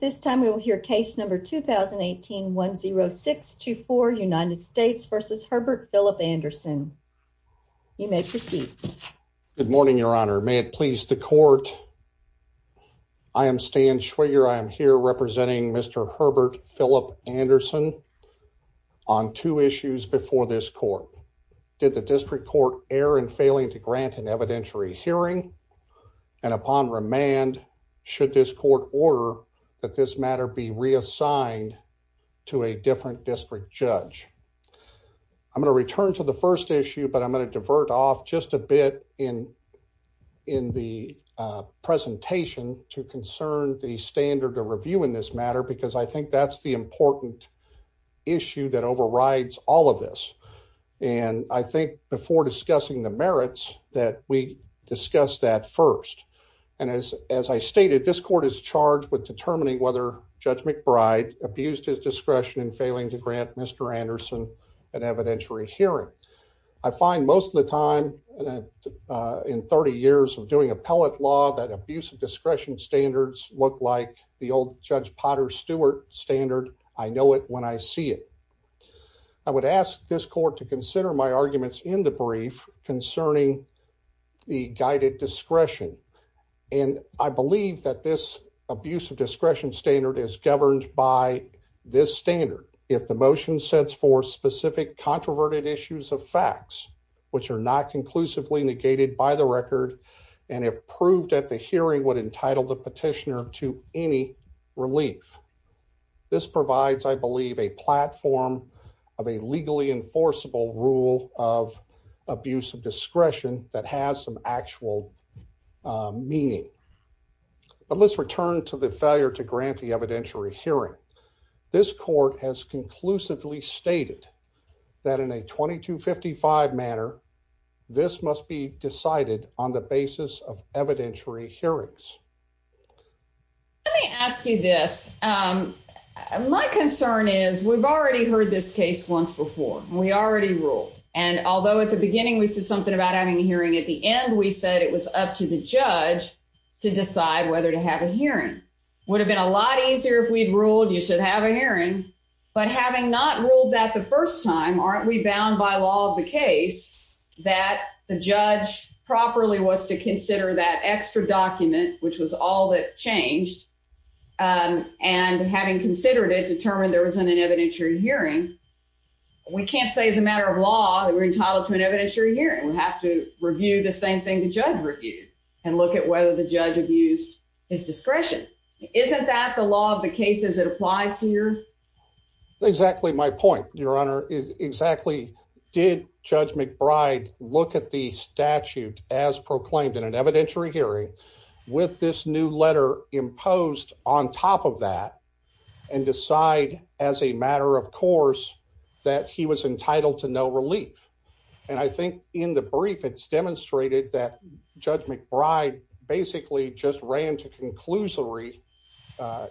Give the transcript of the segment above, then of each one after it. This time we will hear case number 2018-10624, United States v. Herbert Philip Anderson. You may proceed. Good morning, Your Honor. May it please the Court. I am Stan Schwiger. I am here representing Mr. Herbert Philip Anderson on two issues before this Court. Did the District Court err in failing to grant an evidentiary hearing? And upon remand, should this Court order that this matter be reassigned to a different District Judge? I'm going to return to the first issue, but I'm going to divert off just a bit in the presentation to concern the standard of review in this matter, because I think that's the important issue that overrides all of this. And I think before discussing the merits that we discuss that first. And as I stated, this Court is charged with determining whether Judge McBride abused his discretion in failing to grant Mr. Anderson an evidentiary hearing. I find most of the time in 30 years of doing appellate law that abuse of discretion standards look like the old Judge Potter Stewart standard, I know it when I see it. I would ask this Court to consider my arguments in the brief concerning the guided discretion. And I believe that this abuse of discretion standard is governed by this standard. If the motion sets for specific controverted issues of facts, which are not conclusively negated by the record, and approved at the hearing would entitle the petitioner to any relief. This provides, I believe, a platform of a legally enforceable rule of abuse of discretion that has some actual meaning. But let's return to the failure to grant the evidentiary hearing. This Court has conclusively stated that in a 2255 manner, this must be decided on the basis of evidentiary hearings. Let me ask you this. My concern is we've already heard this case once before. We already ruled. And although at the beginning we said something about having a hearing, at the end we said it was up to the judge to decide whether to have a hearing. Would have been a lot easier if we'd ruled you should have a hearing. But having not ruled that the first time, aren't we bound by law of the case that the judge properly was to consider that extra document, which was all that changed, and having considered it, determined there was an evidentiary hearing, we can't say as a matter of law that we're entitled to an evidentiary hearing. We have to review the same thing the judge reviewed and look at whether the judge abused his discretion. Isn't that the law of the case as it applies here? Exactly my point, Your Honor. Exactly. Did Judge McBride look at the statute as proclaimed in an evidentiary hearing with this new letter imposed on top of that and decide as a matter of course that he was entitled to no relief? And I think in the brief it's demonstrated that Judge McBride basically just ran to conclusory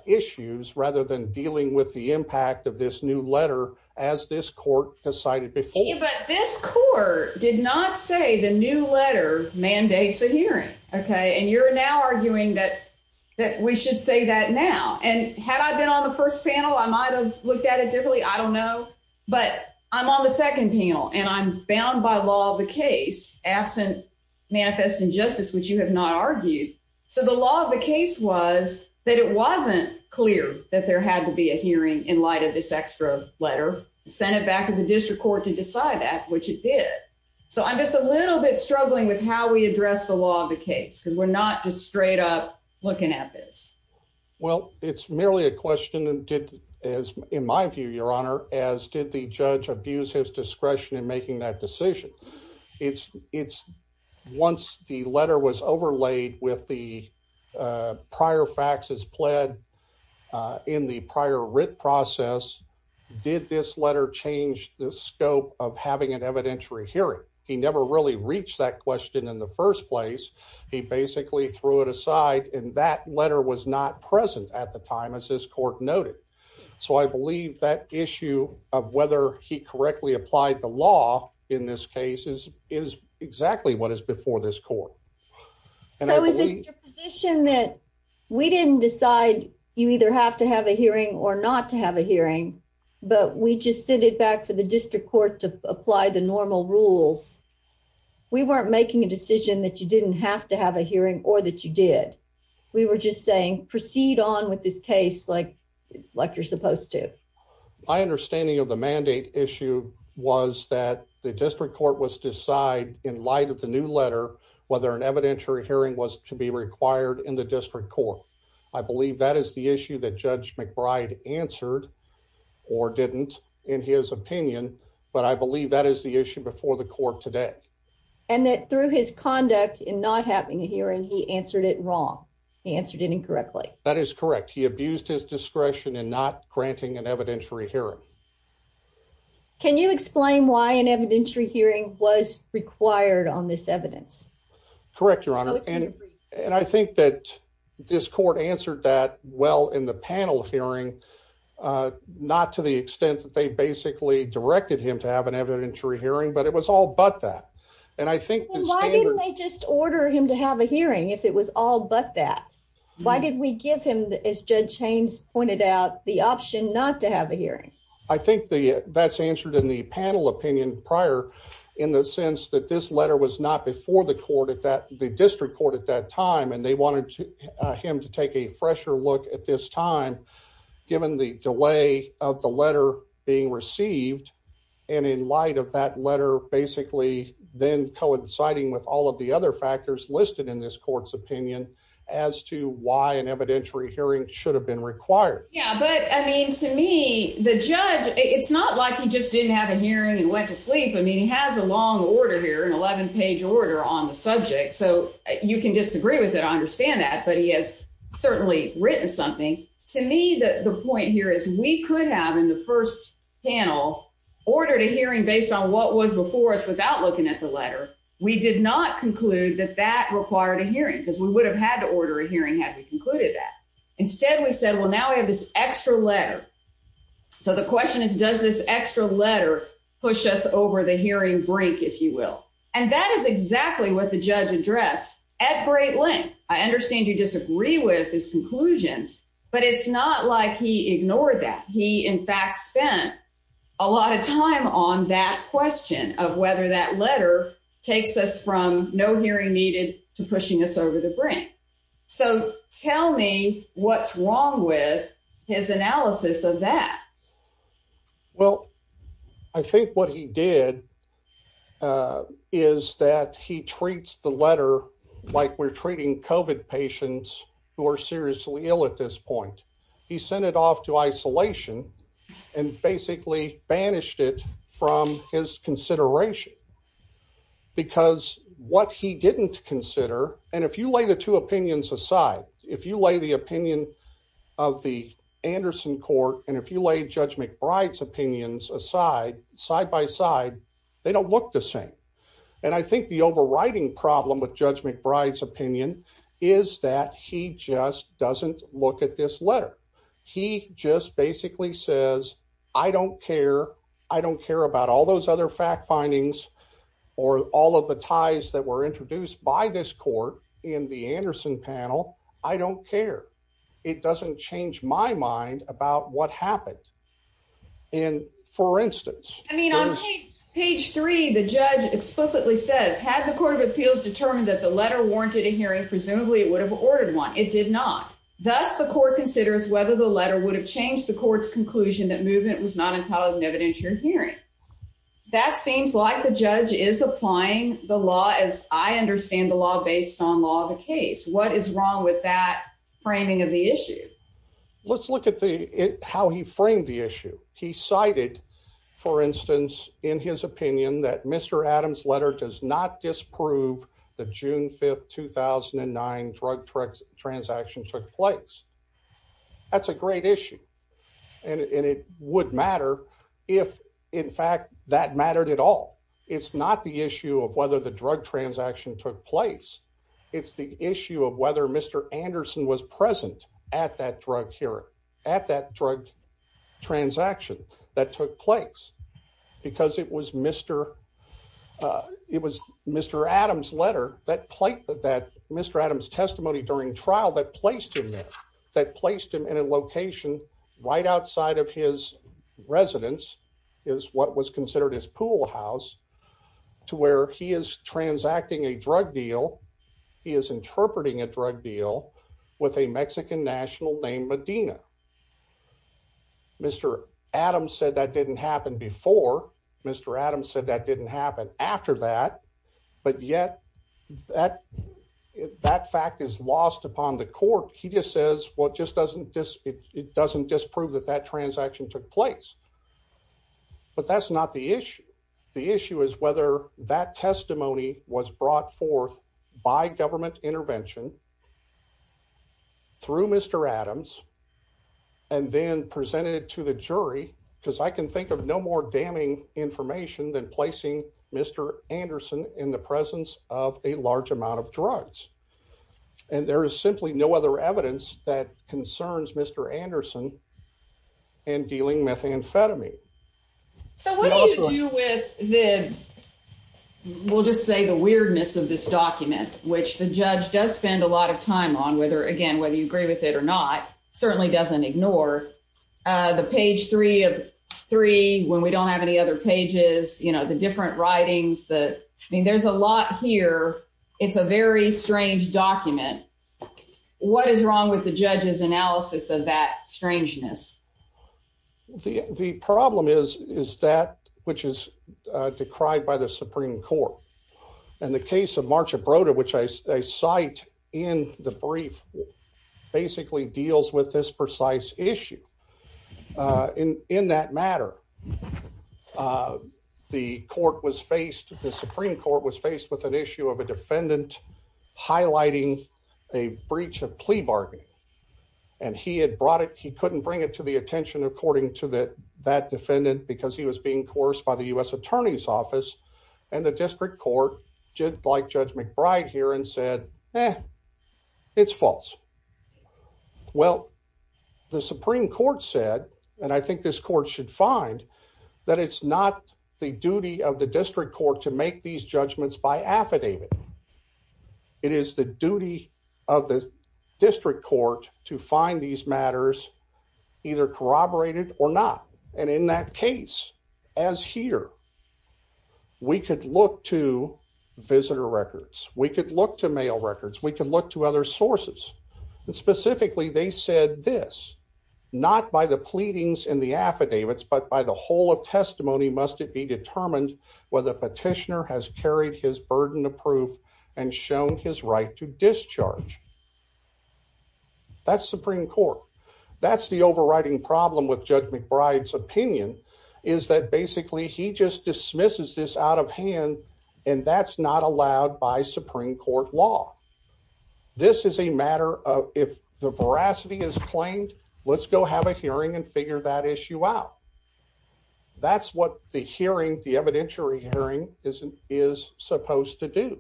issues rather than dealing with the impact of this new letter as this court decided before. But this court did not say the new letter mandates a hearing, okay? And you're now arguing that we should say that now. And had I been on the first panel, I might have looked at it differently. I don't know. But I'm on the second panel, and I'm bound by law of the case absent manifest injustice, which you have not argued. So the law of the case was that it wasn't clear that there had to be a hearing in light of this extra letter. It sent it back to the district court to decide that, which it did. So I'm just a little bit struggling with how we address the law of the case because we're not just straight up looking at this. Well, it's merely a question, in my view, Your Honor, as did the judge abuse his discretion in making that decision. Once the letter was overlaid with the prior faxes pled in the prior writ process, did this letter change the scope of having an evidentiary hearing? He never really reached that question in the first place. He basically threw it aside, and that letter was not present at the time, as this court noted. So I believe that issue of whether he correctly applied the law in this case is exactly what is before this court. So is it your position that we didn't decide you either have to have a hearing or not to have a hearing, but we just sent it back to the district court to apply the normal rules? We weren't making a decision that you didn't have to have a hearing or that you did. We were just saying proceed on with this case like you're supposed to. My understanding of the mandate issue was that the district court was decide in light of the new letter whether an evidentiary hearing was to be required in the district court. I believe that is the issue that Judge McBride answered or didn't in his opinion, but I believe that is the issue before the court today. And that through his conduct in not having a hearing, he answered it wrong. He answered it incorrectly. That is correct. He abused his discretion in not granting an evidentiary hearing. Can you explain why an evidentiary hearing was required on this evidence? Correct, Your Honor. And I think that this court answered that well in the panel hearing, not to the extent that they basically directed him to have an evidentiary hearing, but it was all but that. And I think the standard... Why didn't they just order him to have a hearing if it was all but that? Why did we give him, as Judge Haynes pointed out, the option not to have a hearing? I think that's answered in the panel opinion prior in the sense that this letter was not before the court at that, the district court at that time, and they wanted him to take a fresher look at this time, given the delay of the letter being received. And in light of that letter, basically then coinciding with all of the other factors listed in this court's opinion as to why an evidentiary hearing should have been required. Yeah, but, I mean, to me, the judge, it's not like he just didn't have a hearing and went to sleep. I mean, he has a long order here, an 11-page order on the subject, so you can disagree with it. I understand that, but he has certainly written something. To me, the point here is we could have, in the first panel, ordered a hearing based on what was before us without looking at the letter. We did not conclude that that required a hearing because we would have had to order a hearing had we concluded that. Instead, we said, well, now we have this extra letter. So the question is, does this extra letter push us over the hearing brink, if you will? And that is exactly what the judge addressed at great length. I understand you disagree with his conclusions, but it's not like he ignored that. He, in fact, spent a lot of time on that question of whether that letter takes us from no hearing needed to pushing us over the brink. So tell me what's wrong with his analysis of that. Well, I think what he did is that he treats the letter like we're treating COVID patients who are seriously ill at this point. He sent it off to isolation and basically banished it from his consideration. Because what he didn't consider, and if you lay the two opinions aside, if you lay the opinion of the Anderson court and if you lay Judge McBride's opinions aside, side by side, they don't look the same. And I think the overriding problem with Judge McBride's opinion is that he just doesn't look at this letter. He just basically says, I don't care. I don't care about all those other fact findings or all of the ties that were introduced by this court in the Anderson panel. I don't care. It doesn't change my mind about what happened. I mean, on page three, the judge explicitly says, had the court of appeals determined that the letter warranted a hearing, presumably it would have ordered one. It did not. Thus, the court considers whether the letter would have changed the court's conclusion that movement was not entitled to an evidentiary hearing. That seems like the judge is applying the law as I understand the law based on law of the case. What is wrong with that framing of the issue? Let's look at how he framed the issue. He cited, for instance, in his opinion, that Mr. Adams' letter does not disprove the June 5th, 2009 drug transaction took place. That's a great issue. And it would matter if, in fact, that mattered at all. It's not the issue of whether the drug transaction took place. It's the issue of whether Mr. Anderson was present at that drug transaction that took place, because it was Mr. Adams' letter, Mr. Adams' testimony during trial that placed him there, that placed him in a location right outside of his residence, is what was considered his pool house, to where he is transacting a drug deal. He is interpreting a drug deal with a Mexican national named Medina. Mr. Adams said that didn't happen before. Mr. Adams said that didn't happen after that. But yet, that fact is lost upon the court. He just says, well, it doesn't disprove that that transaction took place. But that's not the issue. The issue is whether that testimony was brought forth by government intervention, through Mr. Adams, and then presented to the jury, because I can think of no more damning information than placing Mr. Anderson in the presence of a large amount of drugs. And there is simply no other evidence that concerns Mr. Anderson in dealing methamphetamine. So what do you do with the, we'll just say the weirdness of this document, which the judge does spend a lot of time on, whether, again, whether you agree with it or not, certainly doesn't ignore. The page three of three, when we don't have any other pages, you know, the different writings, I mean, there's a lot here. It's a very strange document. What is wrong with the judge's analysis of that strangeness? The problem is, is that, which is decried by the Supreme Court, and the case of March of Broda, which I cite in the brief, basically deals with this precise issue. In that matter, the Supreme Court was faced with an issue of a defendant highlighting a breach of plea bargain. And he had brought it, he couldn't bring it to the attention, according to that defendant, because he was being coerced by the U.S. Attorney's Office, and the district court, like Judge McBride here, and said, eh, it's false. Well, the Supreme Court said, and I think this court should find, that it's not the duty of the district court to make these judgments by affidavit. It is the duty of the district court to find these matters, either corroborated or not. And in that case, as here, we could look to visitor records, we could look to mail records, we could look to other sources. Specifically, they said this, not by the pleadings in the affidavits, but by the whole of testimony must it be determined whether petitioner has carried his burden of proof and shown his right to discharge. That's Supreme Court. That's the overriding problem with Judge McBride's opinion, is that basically he just dismisses this out of hand, and that's not allowed by Supreme Court law. This is a matter of, if the veracity is claimed, let's go have a hearing and figure that issue out. That's what the hearing, the evidentiary hearing, is supposed to do.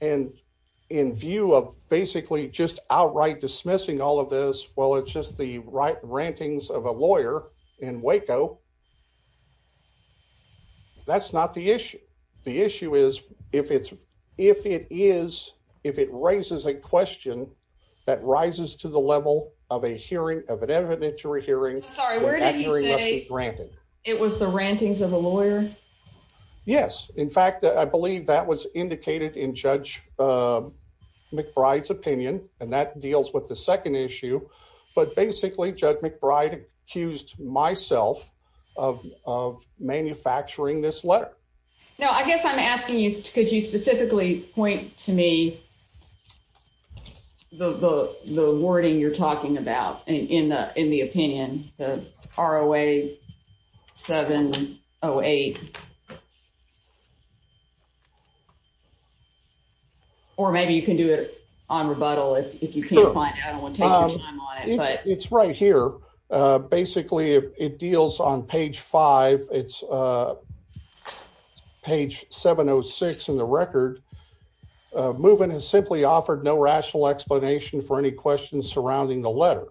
And in view of basically just outright dismissing all of this, well, it's just the rantings of a lawyer in Waco. That's not the issue. The issue is, if it is, if it raises a question that rises to the level of a hearing, of an evidentiary hearing, that hearing must be granted. It was the rantings of a lawyer? Yes. In fact, I believe that was indicated in Judge McBride's opinion, and that deals with the second issue. But basically, Judge McBride accused myself of manufacturing this letter. No, I guess I'm asking you, could you specifically point to me the wording you're talking about in the opinion, the ROA 708? Or maybe you can do it on rebuttal if you can't find out. I don't want to take your time on it. It's right here. Basically, it deals on page five. It's page 706 in the record. Movement has simply offered no rational explanation for any questions surrounding the letter,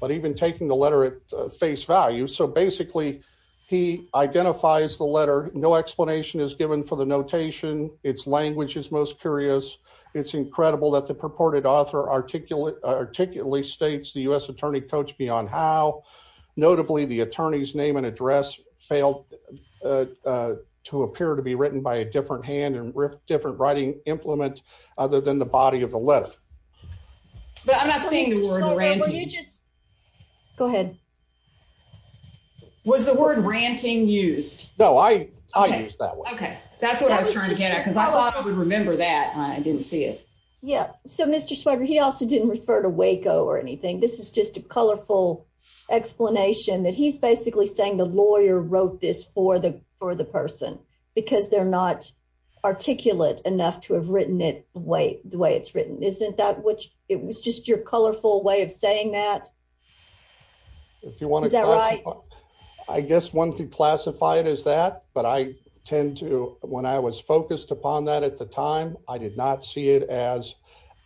but even taking the letter at face value. So basically, he identifies the letter. No explanation is given for the notation. Its language is most curious. It's incredible that the purported author articulately states the U.S. attorney coached me on how. Notably, the attorney's name and address failed to appear to be written by a different hand and with different writing implement other than the body of the letter. But I'm not saying the word ranting. Go ahead. Was the word ranting used? No, I used that word. Okay. That's what I was trying to get at because I thought I would remember that. I didn't see it. Yeah. So, Mr. Swagger, he also didn't refer to Waco or anything. This is just a colorful explanation that he's basically saying the lawyer wrote this for the person because they're not articulate enough to have written it the way it's written. Isn't that what it was just your colorful way of saying that? Is that right? I guess one could classify it as that, but when I was focused upon that at the time, I did not see it as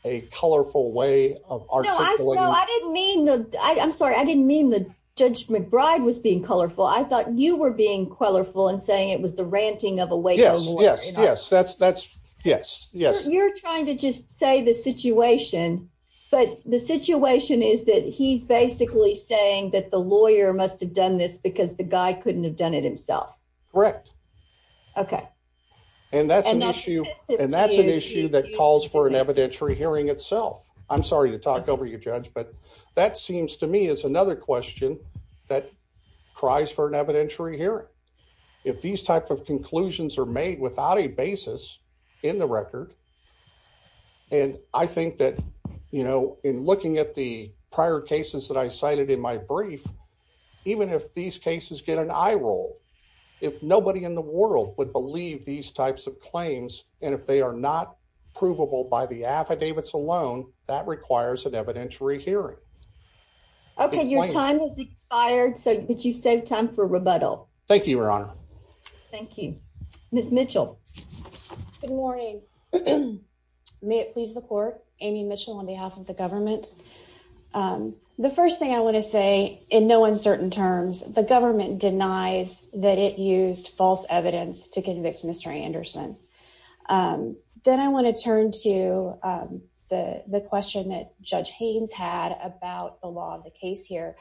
a colorful way of articulating. No, I'm sorry. I didn't mean that Judge McBride was being colorful. I thought you were being colorful and saying it was the ranting of a Waco lawyer. Yes, yes. You're trying to just say the situation, but the situation is that he's basically saying that the lawyer must have done this because the guy couldn't have done it himself. Correct. Okay. And that's an issue that calls for an evidentiary hearing itself. I'm sorry to talk over you, Judge, but that seems to me is another question that cries for an evidentiary hearing. If these types of conclusions are made without a basis in the record, and I think that, you know, in looking at the prior cases that I cited in my brief, even if these cases get an eye roll, if nobody in the world would believe these types of claims, and if they are not provable by the affidavits alone, that requires an evidentiary hearing. Okay, your time has expired, but you saved time for rebuttal. Thank you, Your Honor. Thank you. Ms. Mitchell. Good morning. May it please the court, Amy Mitchell on behalf of the government. The first thing I want to say, in no uncertain terms, the government denies that it used false evidence to convict Mr. Anderson. Then I want to turn to the question that Judge Haynes had about the law of the case here.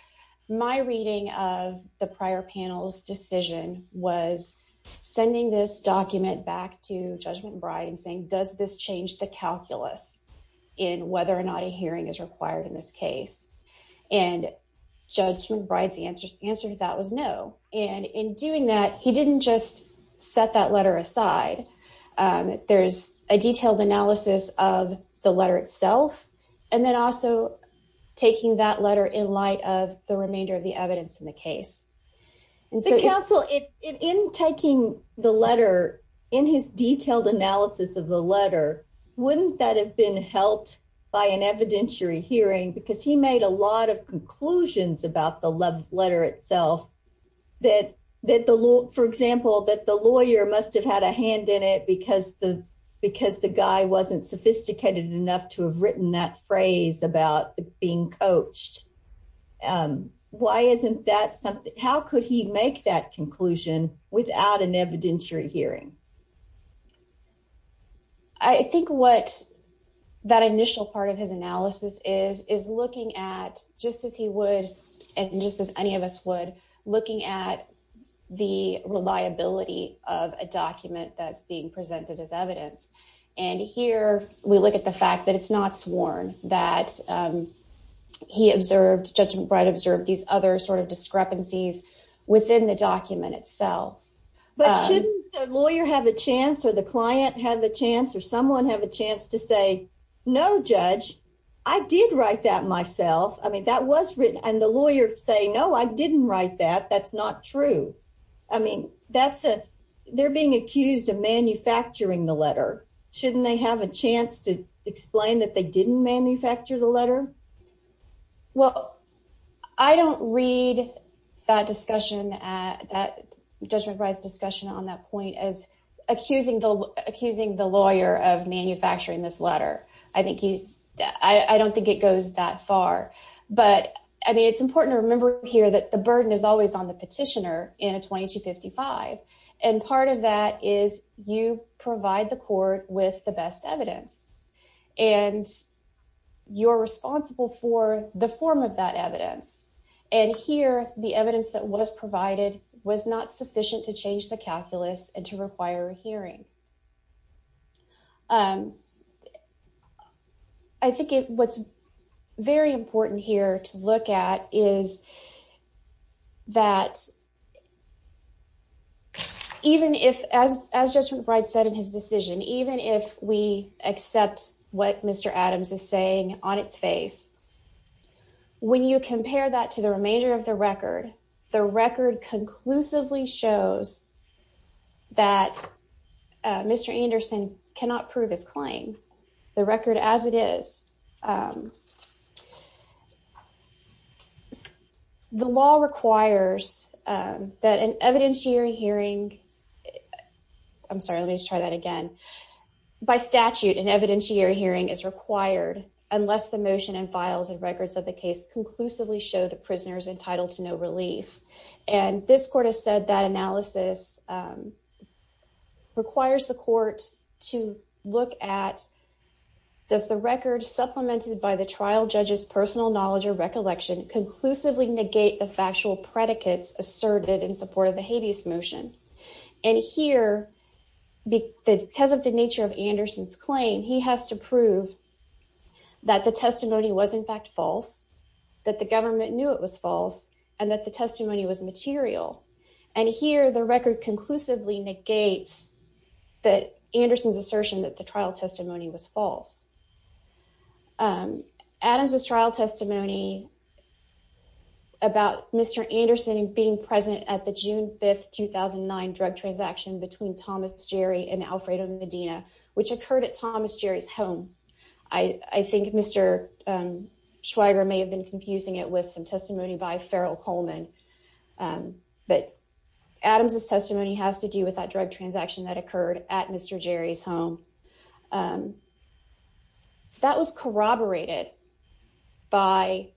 My reading of the prior panel's decision was sending this document back to Judge McBride and saying, does this change the calculus in whether or not a hearing is required in this case? And Judge McBride's answer to that was no. And in doing that, he didn't just set that letter aside. There's a detailed analysis of the letter itself, and then also taking that letter in light of the remainder of the evidence in the case. Counsel, in taking the letter, in his detailed analysis of the letter, wouldn't that have been helped by an evidentiary hearing? Because he made a lot of conclusions about the letter itself. For example, that the lawyer must have had a hand in it because the guy wasn't sophisticated enough to have written that phrase about being coached. How could he make that conclusion without an evidentiary hearing? I think what that initial part of his analysis is, is looking at, just as he would, and just as any of us would, looking at the reliability of a document that's being presented as evidence. And here, we look at the fact that it's not sworn, that he observed, Judge McBride observed, these other sort of discrepancies within the document itself. But shouldn't the lawyer have a chance, or the client have a chance, or someone have a chance to say, no, Judge, I did write that myself. I mean, that was written. And the lawyer say, no, I didn't write that. That's not true. They're being accused of manufacturing the letter. Shouldn't they have a chance to explain that they didn't manufacture the letter? Well, I don't read that discussion, Judge McBride's discussion on that point, as accusing the lawyer of manufacturing this letter. I don't think it goes that far. But I mean, it's important to remember here that the burden is always on the petitioner in a 2255. And part of that is you provide the court with the best evidence. And you're responsible for the form of that evidence. And here, the evidence that was provided was not sufficient to change the calculus and to require a hearing. I think what's very important here to look at is that even if, as Judge McBride said in his decision, even if we accept what Mr. Adams is saying on its face, when you compare that to the remainder of the record, the record conclusively shows that Mr. Anderson cannot prove his claim. The record as it is. The law requires that an evidentiary hearing, I'm sorry, let me just try that again. By statute, an evidentiary hearing is required unless the motion and files and records of the case conclusively show the prisoner is entitled to no relief. And this court has said that analysis requires the court to look at, does the record supplemented by the trial judge's personal knowledge or recollection conclusively negate the factual predicates asserted in support of the habeas motion? And here, because of the nature of Anderson's claim, he has to prove that the testimony was in fact false, that the government knew it was false, and that the testimony was material. And here, the record conclusively negates that Anderson's assertion that the trial testimony was false. Adams's trial testimony about Mr. Anderson being present at the June 5th, 2009 drug transaction between Thomas Jerry and Alfredo Medina, which occurred at Thomas Jerry's home. I think Mr. Schweiger may have been confusing it with some testimony by Farrell Coleman. But Adams's testimony has to do with that drug transaction that occurred at Mr. Jerry's home. That was corroborated by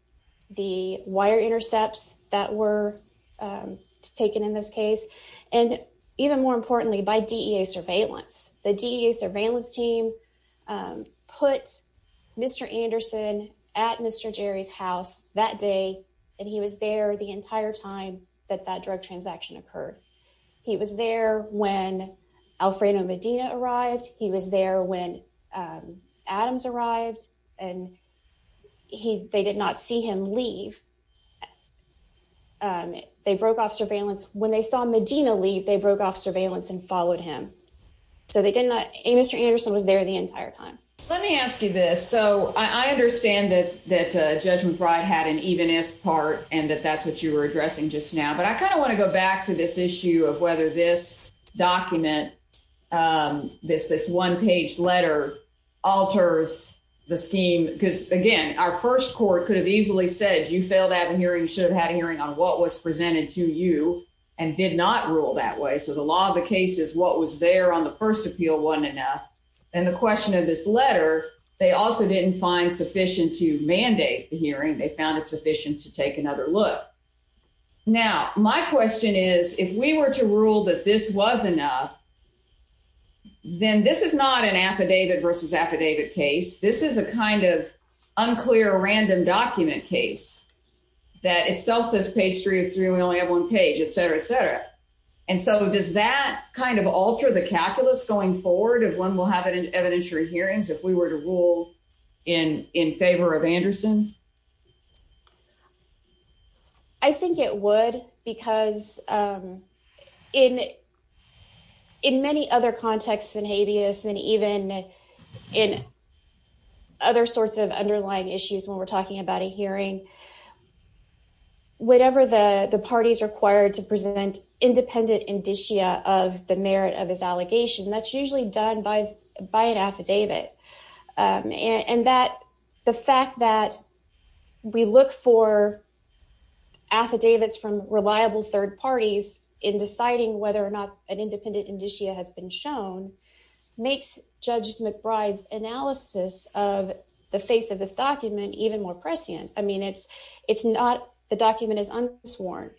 the wire intercepts that were taken in this case, and even more importantly, by DEA surveillance. The DEA surveillance team put Mr. Anderson at Mr. Jerry's house that day, and he was there the entire time that that drug transaction occurred. He was there when Alfredo Medina arrived. He was there when Adams arrived, and they did not see him leave. They broke off surveillance. When they saw Medina leave, they broke off surveillance and followed him. So they did not—Mr. Anderson was there the entire time. Let me ask you this. So I understand that Judge McBride had an even-if part and that that's what you were addressing just now. But I kind of want to go back to this issue of whether this document, this one-page letter, alters the scheme. Because, again, our first court could have easily said you failed to have a hearing. You should have had a hearing on what was presented to you and did not rule that way. So the law of the case is what was there on the first appeal wasn't enough. And the question of this letter, they also didn't find sufficient to mandate the hearing. They found it sufficient to take another look. Now, my question is, if we were to rule that this was enough, then this is not an affidavit versus affidavit case. This is a kind of unclear, random document case that itself says page three of three, we only have one page, et cetera, et cetera. And so does that kind of alter the calculus going forward if one will have evidentiary hearings if we were to rule in favor of Anderson? I think it would because in many other contexts in habeas and even in other sorts of underlying issues when we're talking about a hearing, whatever the parties required to present independent indicia of the merit of his allegation, that's usually done by an affidavit. And that the fact that we look for affidavits from reliable third parties in deciding whether or not an independent indicia has been shown makes Judge McBride's analysis of the face of this document even more prescient. I mean, it's not the document is unsworn.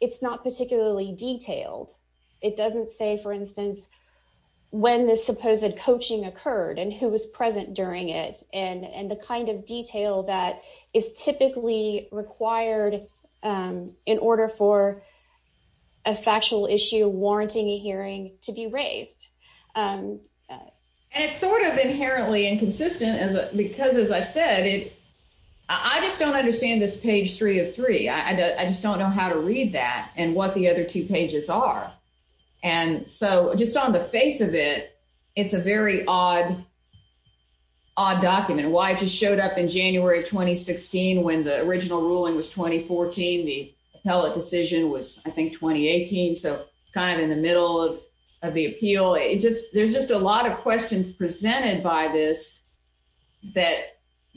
It's not particularly detailed. It doesn't say, for instance, when this supposed coaching occurred and who was present during it and the kind of detail that is typically required in order for a factual issue warranting a hearing to be raised. And it's sort of inherently inconsistent because, as I said, I just don't understand this page three of three. I just don't know how to read that and what the other two pages are. And so just on the face of it, it's a very odd document. Why it just showed up in January 2016 when the original ruling was 2014. The appellate decision was, I think, 2018. So it's kind of in the middle of the appeal. There's just a lot of questions presented by this that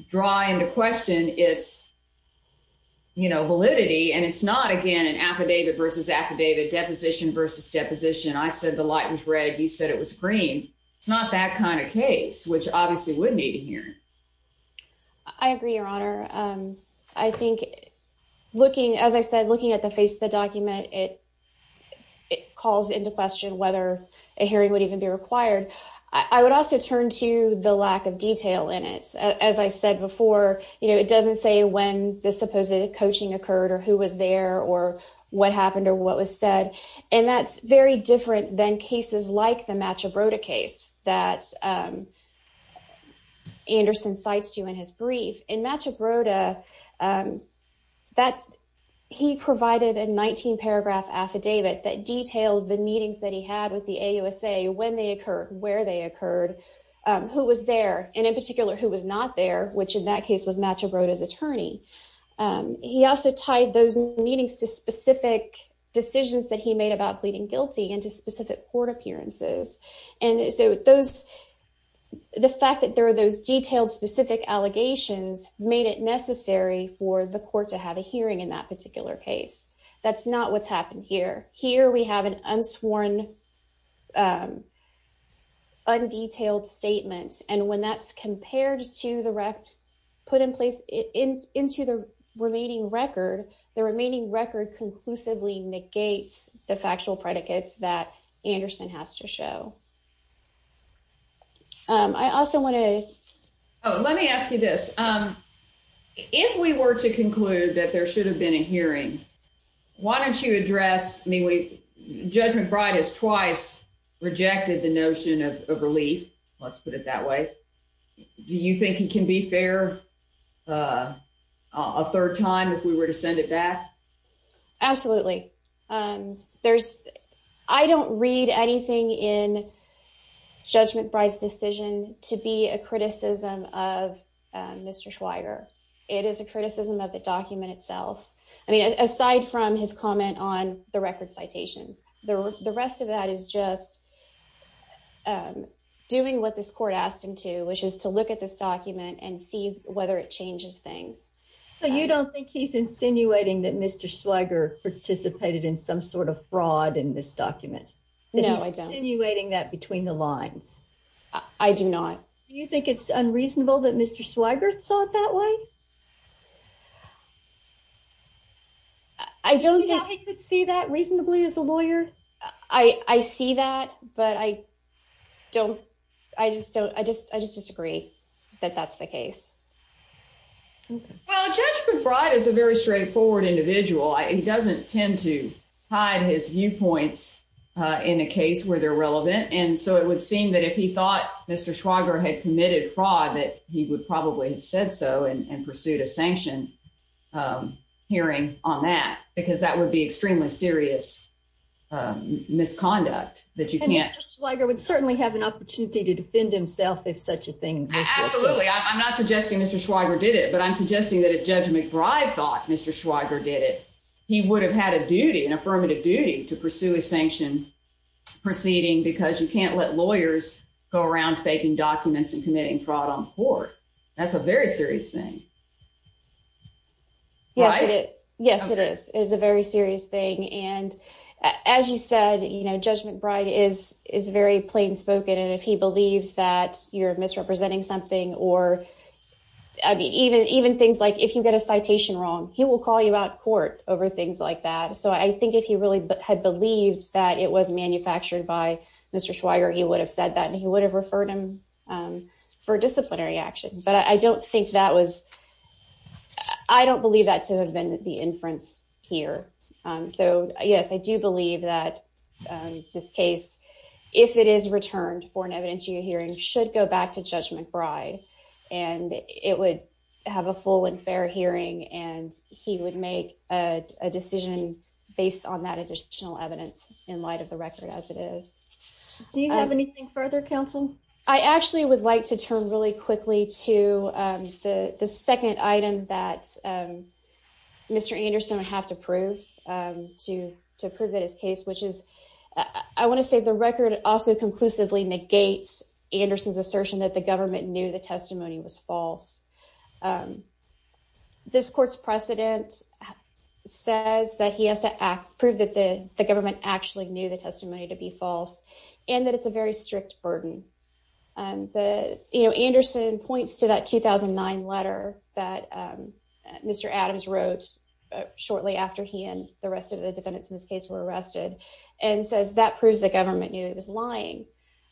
draw into question its validity. And it's not, again, an affidavit versus affidavit, deposition versus deposition. I said the light was red. You said it was green. It's not that kind of case, which obviously would need a hearing. I agree, Your Honor. I think looking, as I said, looking at the face of the document, it calls into question whether a hearing would even be required. I would also turn to the lack of detail in it. As I said before, you know, it doesn't say when the supposed coaching occurred or who was there or what happened or what was said. And that's very different than cases like the Machabrota case that Anderson cites to you in his brief. In Machabrota, he provided a 19-paragraph affidavit that detailed the meetings that he had with the AUSA, when they occurred, where they occurred, who was there, and in particular, who was not there, He also tied those meetings to specific decisions that he made about pleading guilty and to specific court appearances. And so the fact that there are those detailed specific allegations made it necessary for the court to have a hearing in that particular case. That's not what's happened here. Here we have an unsworn, undetailed statement. And when that's compared to the record put in place into the remaining record, the remaining record conclusively negates the factual predicates that Anderson has to show. I also want to... Judge McBride has twice rejected the notion of relief. Let's put it that way. Do you think it can be fair a third time if we were to send it back? Absolutely. I don't read anything in Judge McBride's decision to be a criticism of Mr. Schweiger. It is a criticism of the document itself. Aside from his comment on the record citations, the rest of that is just doing what this court asked him to, which is to look at this document and see whether it changes things. So you don't think he's insinuating that Mr. Schweiger participated in some sort of fraud in this document? No, I don't. He's insinuating that between the lines. I do not. Do you think it's unreasonable that Mr. Schweiger saw it that way? Do you think he could see that reasonably as a lawyer? I see that, but I just disagree that that's the case. Well, Judge McBride is a very straightforward individual. He doesn't tend to hide his viewpoints in a case where they're relevant, and so it would seem that if he thought Mr. Schweiger had committed fraud, that he would probably have said so and pursued a sanction hearing on that, because that would be extremely serious misconduct. And Mr. Schweiger would certainly have an opportunity to defend himself if such a thing were to occur. Absolutely. I'm not suggesting Mr. Schweiger did it, but I'm suggesting that if Judge McBride thought Mr. Schweiger did it, he would have had a duty, an affirmative duty, to pursue a sanction proceeding, because you can't let lawyers go around faking documents and committing fraud on court. That's a very serious thing. Yes, it is. It is a very serious thing, and as you said, Judge McBride is very plain spoken, and if he believes that you're misrepresenting something or even things like if you get a citation wrong, he will call you out in court over things like that. So I think if he really had believed that it was manufactured by Mr. Schweiger, he would have said that, and he would have referred him for disciplinary action, but I don't think that was – I don't believe that to have been the inference here. So, yes, I do believe that this case, if it is returned for an evidentiary hearing, should go back to Judge McBride, and it would have a full and fair hearing, and he would make a decision based on that additional evidence in light of the record as it is. Do you have anything further, counsel? I actually would like to turn really quickly to the second item that Mr. Anderson would have to prove, to prove that his case, which is I want to say the record also conclusively negates Anderson's assertion that the government knew the testimony was false. This court's precedent says that he has to prove that the government actually knew the testimony to be false and that it's a very strict burden. Anderson points to that 2009 letter that Mr. Adams wrote shortly after he and the rest of the defendants in this case were arrested and says that proves the government knew he was lying.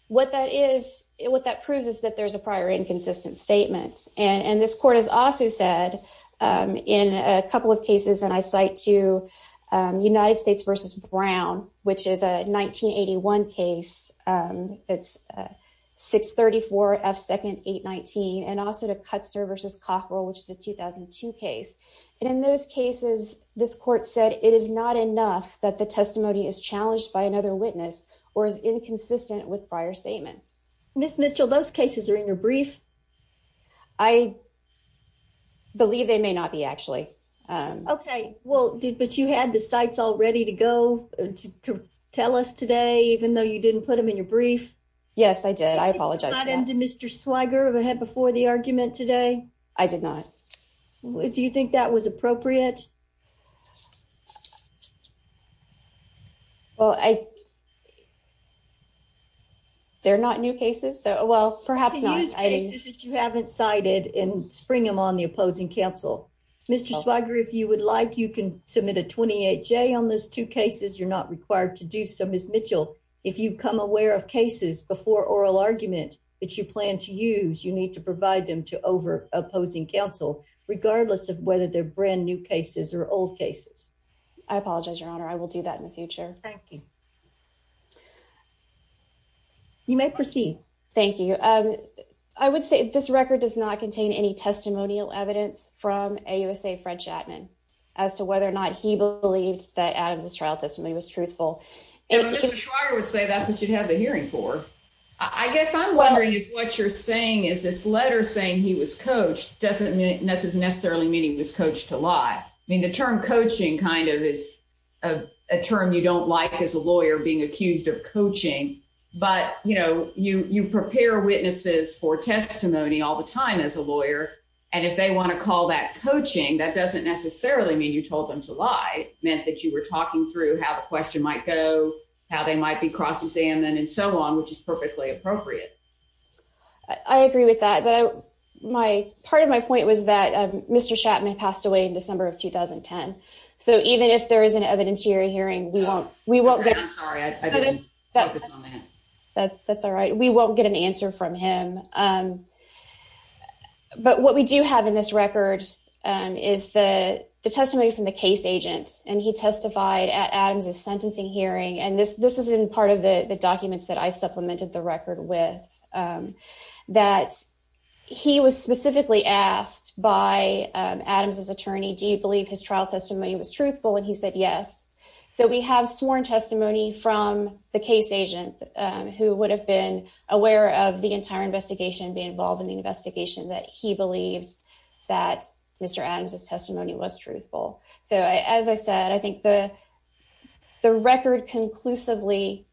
What that is – what that proves is that there's a prior inconsistent statement, and this court has also said in a couple of cases, and I cite to United States v. Brown, which is a 1981 case, it's 634 F. 2nd. 819, and also to Cutster v. Cockrell, which is a 2002 case. And in those cases, this court said it is not enough that the testimony is challenged by another witness or is inconsistent with prior statements. Ms. Mitchell, those cases are in your brief. I believe they may not be, actually. Okay. Well, but you had the cites all ready to go to tell us today, even though you didn't put them in your brief? Yes, I did. I apologize for that. Did you not end Mr. Swigert ahead before the argument today? I did not. Do you think that was appropriate? Well, I – they're not new cases, so, well, perhaps not. Use cases that you haven't cited and spring them on the opposing counsel. Mr. Swigert, if you would like, you can submit a 28-J on those two cases. You're not required to do so. Ms. Mitchell, if you come aware of cases before oral argument that you plan to use, you need to provide them to over-opposing counsel, regardless of whether they're brand-new cases or old cases. I apologize, Your Honor. I will do that in the future. Thank you. You may proceed. Thank you. I would say this record does not contain any testimonial evidence from AUSA Fred Chapman as to whether or not he believed that Adams' trial testimony was truthful. And Mr. Swigert would say that's what you'd have a hearing for. I guess I'm wondering if what you're saying is this letter saying he was coached doesn't necessarily mean he was coached to lie. I mean, the term coaching kind of is a term you don't like as a lawyer, being accused of coaching. But, you know, you prepare witnesses for testimony all the time as a lawyer, and if they want to call that coaching, that doesn't necessarily mean you told them to lie. It meant that you were talking through how the question might go, how they might be cross-examined and so on, which is perfectly appropriate. I agree with that. But part of my point was that Mr. Chapman passed away in December of 2010. So even if there is an evidentiary hearing, we won't get an answer from him. But what we do have in this record is the testimony from the case agent, and he testified at Adams' sentencing hearing. And this is in part of the documents that I supplemented the record with, that he was specifically asked by Adams' attorney, do you believe his trial testimony was truthful? And he said yes. So we have sworn testimony from the case agent who would have been aware of the entire investigation, be involved in the investigation, that he believed that Mr. Adams' testimony was truthful. So as I said, I think the record conclusively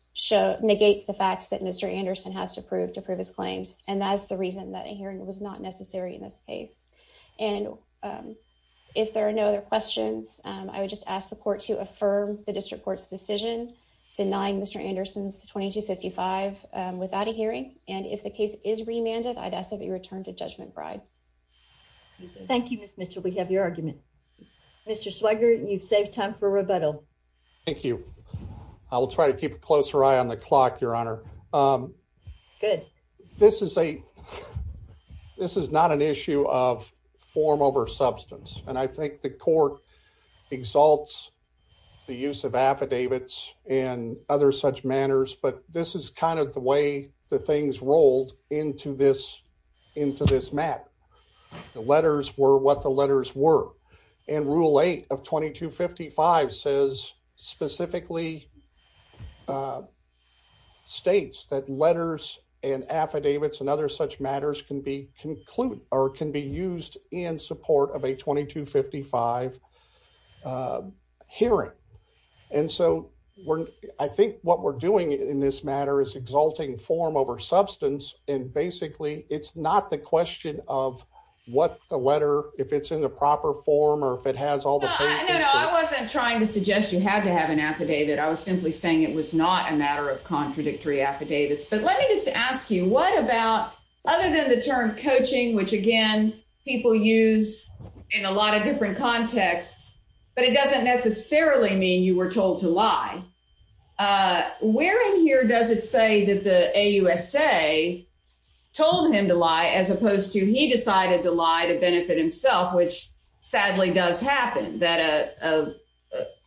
negates the facts that Mr. Anderson has to prove to prove his claims, and that's the reason that a hearing was not necessary in this case. And if there are no other questions, I would just ask the court to affirm the district court's decision denying Mr. Anderson's 2255 without a hearing. And if the case is remanded, I'd ask that it be returned to Judgment Bride. Thank you, Ms. Mitchell. We have your argument. Mr. Swigert, you've saved time for rebuttal. Thank you. I will try to keep a closer eye on the clock, Your Honor. Good. This is not an issue of form over substance, and I think the court exalts the use of affidavits and other such manners, but this is kind of the way the things rolled into this matter. The letters were what the letters were. And Rule 8 of 2255 specifically states that letters and affidavits and other such matters can be used in support of a 2255 hearing. And so I think what we're doing in this matter is exalting form over substance, and basically it's not the question of what the letter, if it's in the proper form or if it has all the papers. No, no, I wasn't trying to suggest you had to have an affidavit. I was simply saying it was not a matter of contradictory affidavits. But let me just ask you, what about other than the term coaching, which, again, people use in a lot of different contexts, but it doesn't necessarily mean you were told to lie. Where in here does it say that the AUSA told him to lie as opposed to he decided to lie to benefit himself, which sadly does happen?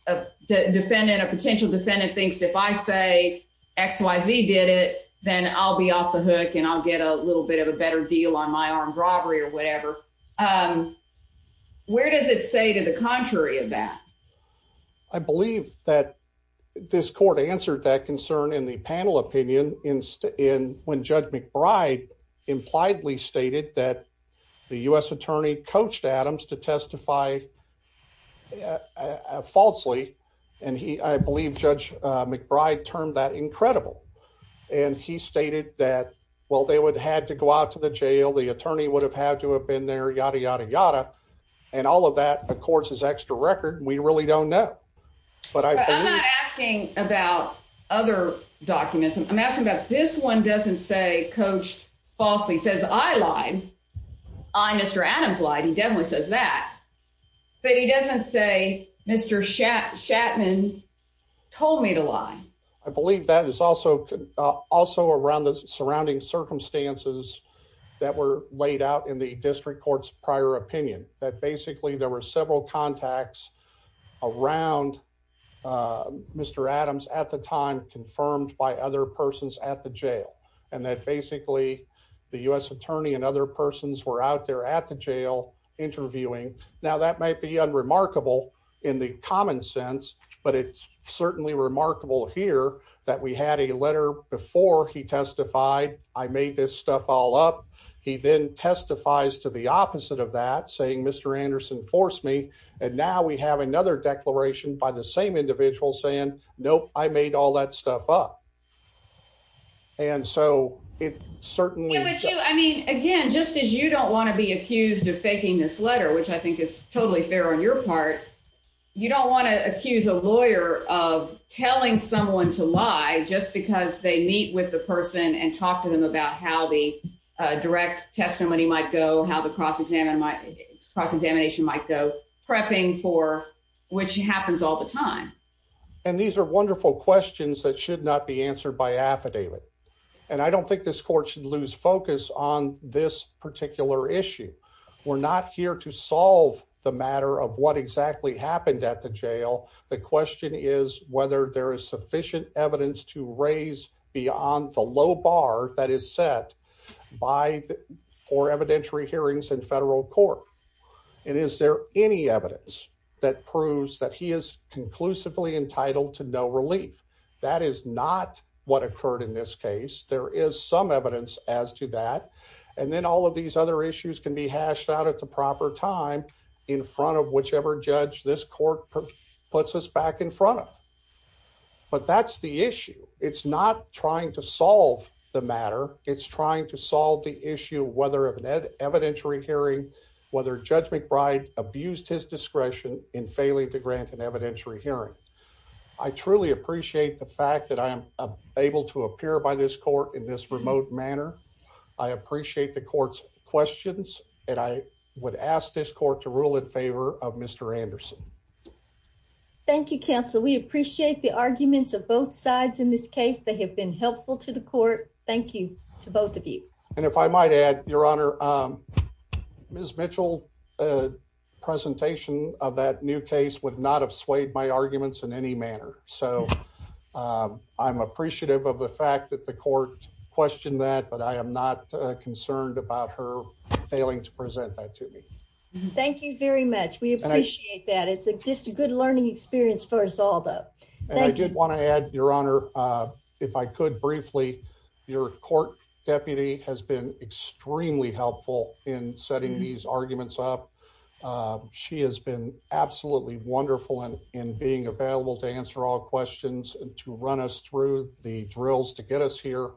A potential defendant thinks if I say XYZ did it, then I'll be off the hook and I'll get a little bit of a better deal on my armed robbery or whatever. Where does it say to the contrary of that? I believe that this court answered that concern in the panel opinion when Judge McBride impliedly stated that the U.S. attorney coached Adams to testify falsely. And I believe Judge McBride termed that incredible. And he stated that, well, they would have had to go out to the jail. The attorney would have had to have been there, yada, yada, yada. And all of that, of course, is extra record. We really don't know. But I'm not asking about other documents. I'm asking that this one doesn't say coach falsely says I lied. I Mr. Adams lied. He definitely says that. But he doesn't say Mr. Shatman told me to lie. I believe that is also also around the surrounding circumstances that were laid out in the district court's prior opinion that basically there were several contacts around Mr. Adams at the time confirmed by other persons at the jail and that basically the U.S. attorney and other persons were out there at the jail interviewing. Now, that might be unremarkable in the common sense, but it's certainly remarkable here that we had a letter before he testified I made this stuff all up. He then testifies to the opposite of that, saying Mr. Anderson forced me. And now we have another declaration by the same individual saying, nope, I made all that stuff up. And so it certainly I mean, again, just as you don't want to be accused of faking this letter, which I think is totally fair on your part. You don't want to accuse a lawyer of telling someone to lie just because they meet with the person and talk to them about how the direct testimony might go, how the cross examine my cross examination might go prepping for which happens all the time. And these are wonderful questions that should not be answered by affidavit. And I don't think this court should lose focus on this particular issue. We're not here to solve the matter of what exactly happened at the jail. The question is whether there is sufficient evidence to raise beyond the low bar that is set by for evidentiary hearings and federal court. And is there any evidence that proves that he is conclusively entitled to no relief. That is not what occurred in this case, there is some evidence as to that. And then all of these other issues can be hashed out at the proper time in front of whichever judge this court puts us back in front of. But that's the issue. It's not trying to solve the matter, it's trying to solve the issue whether of an evidentiary hearing, whether Judge McBride abused his discretion in failing to grant an evidentiary hearing. I truly appreciate the fact that I am able to appear by this court in this remote manner. I appreciate the court's questions, and I would ask this court to rule in favor of Mr. Anderson. Thank you, Counsel. We appreciate the arguments of both sides in this case. They have been helpful to the court. Thank you to both of you. And if I might add, Your Honor, Ms. Mitchell's presentation of that new case would not have swayed my arguments in any manner. So, I'm appreciative of the fact that the court questioned that, but I am not concerned about her failing to present that to me. Thank you very much. We appreciate that. It's just a good learning experience for us all, though. And I did want to add, Your Honor, if I could briefly, your court deputy has been extremely helpful in setting these arguments up. She has been absolutely wonderful in being available to answer all questions and to run us through the drills to get us here.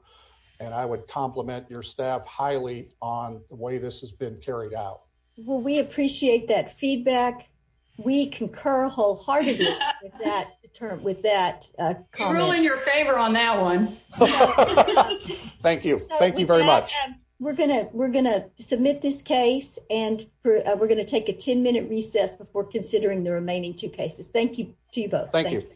And I would compliment your staff highly on the way this has been carried out. Well, we appreciate that feedback. We concur wholeheartedly with that comment. Rule in your favor on that one. Thank you. Thank you very much. We're going to submit this case, and we're going to take a 10-minute recess before considering the remaining two cases. Thank you to you both. Thank you.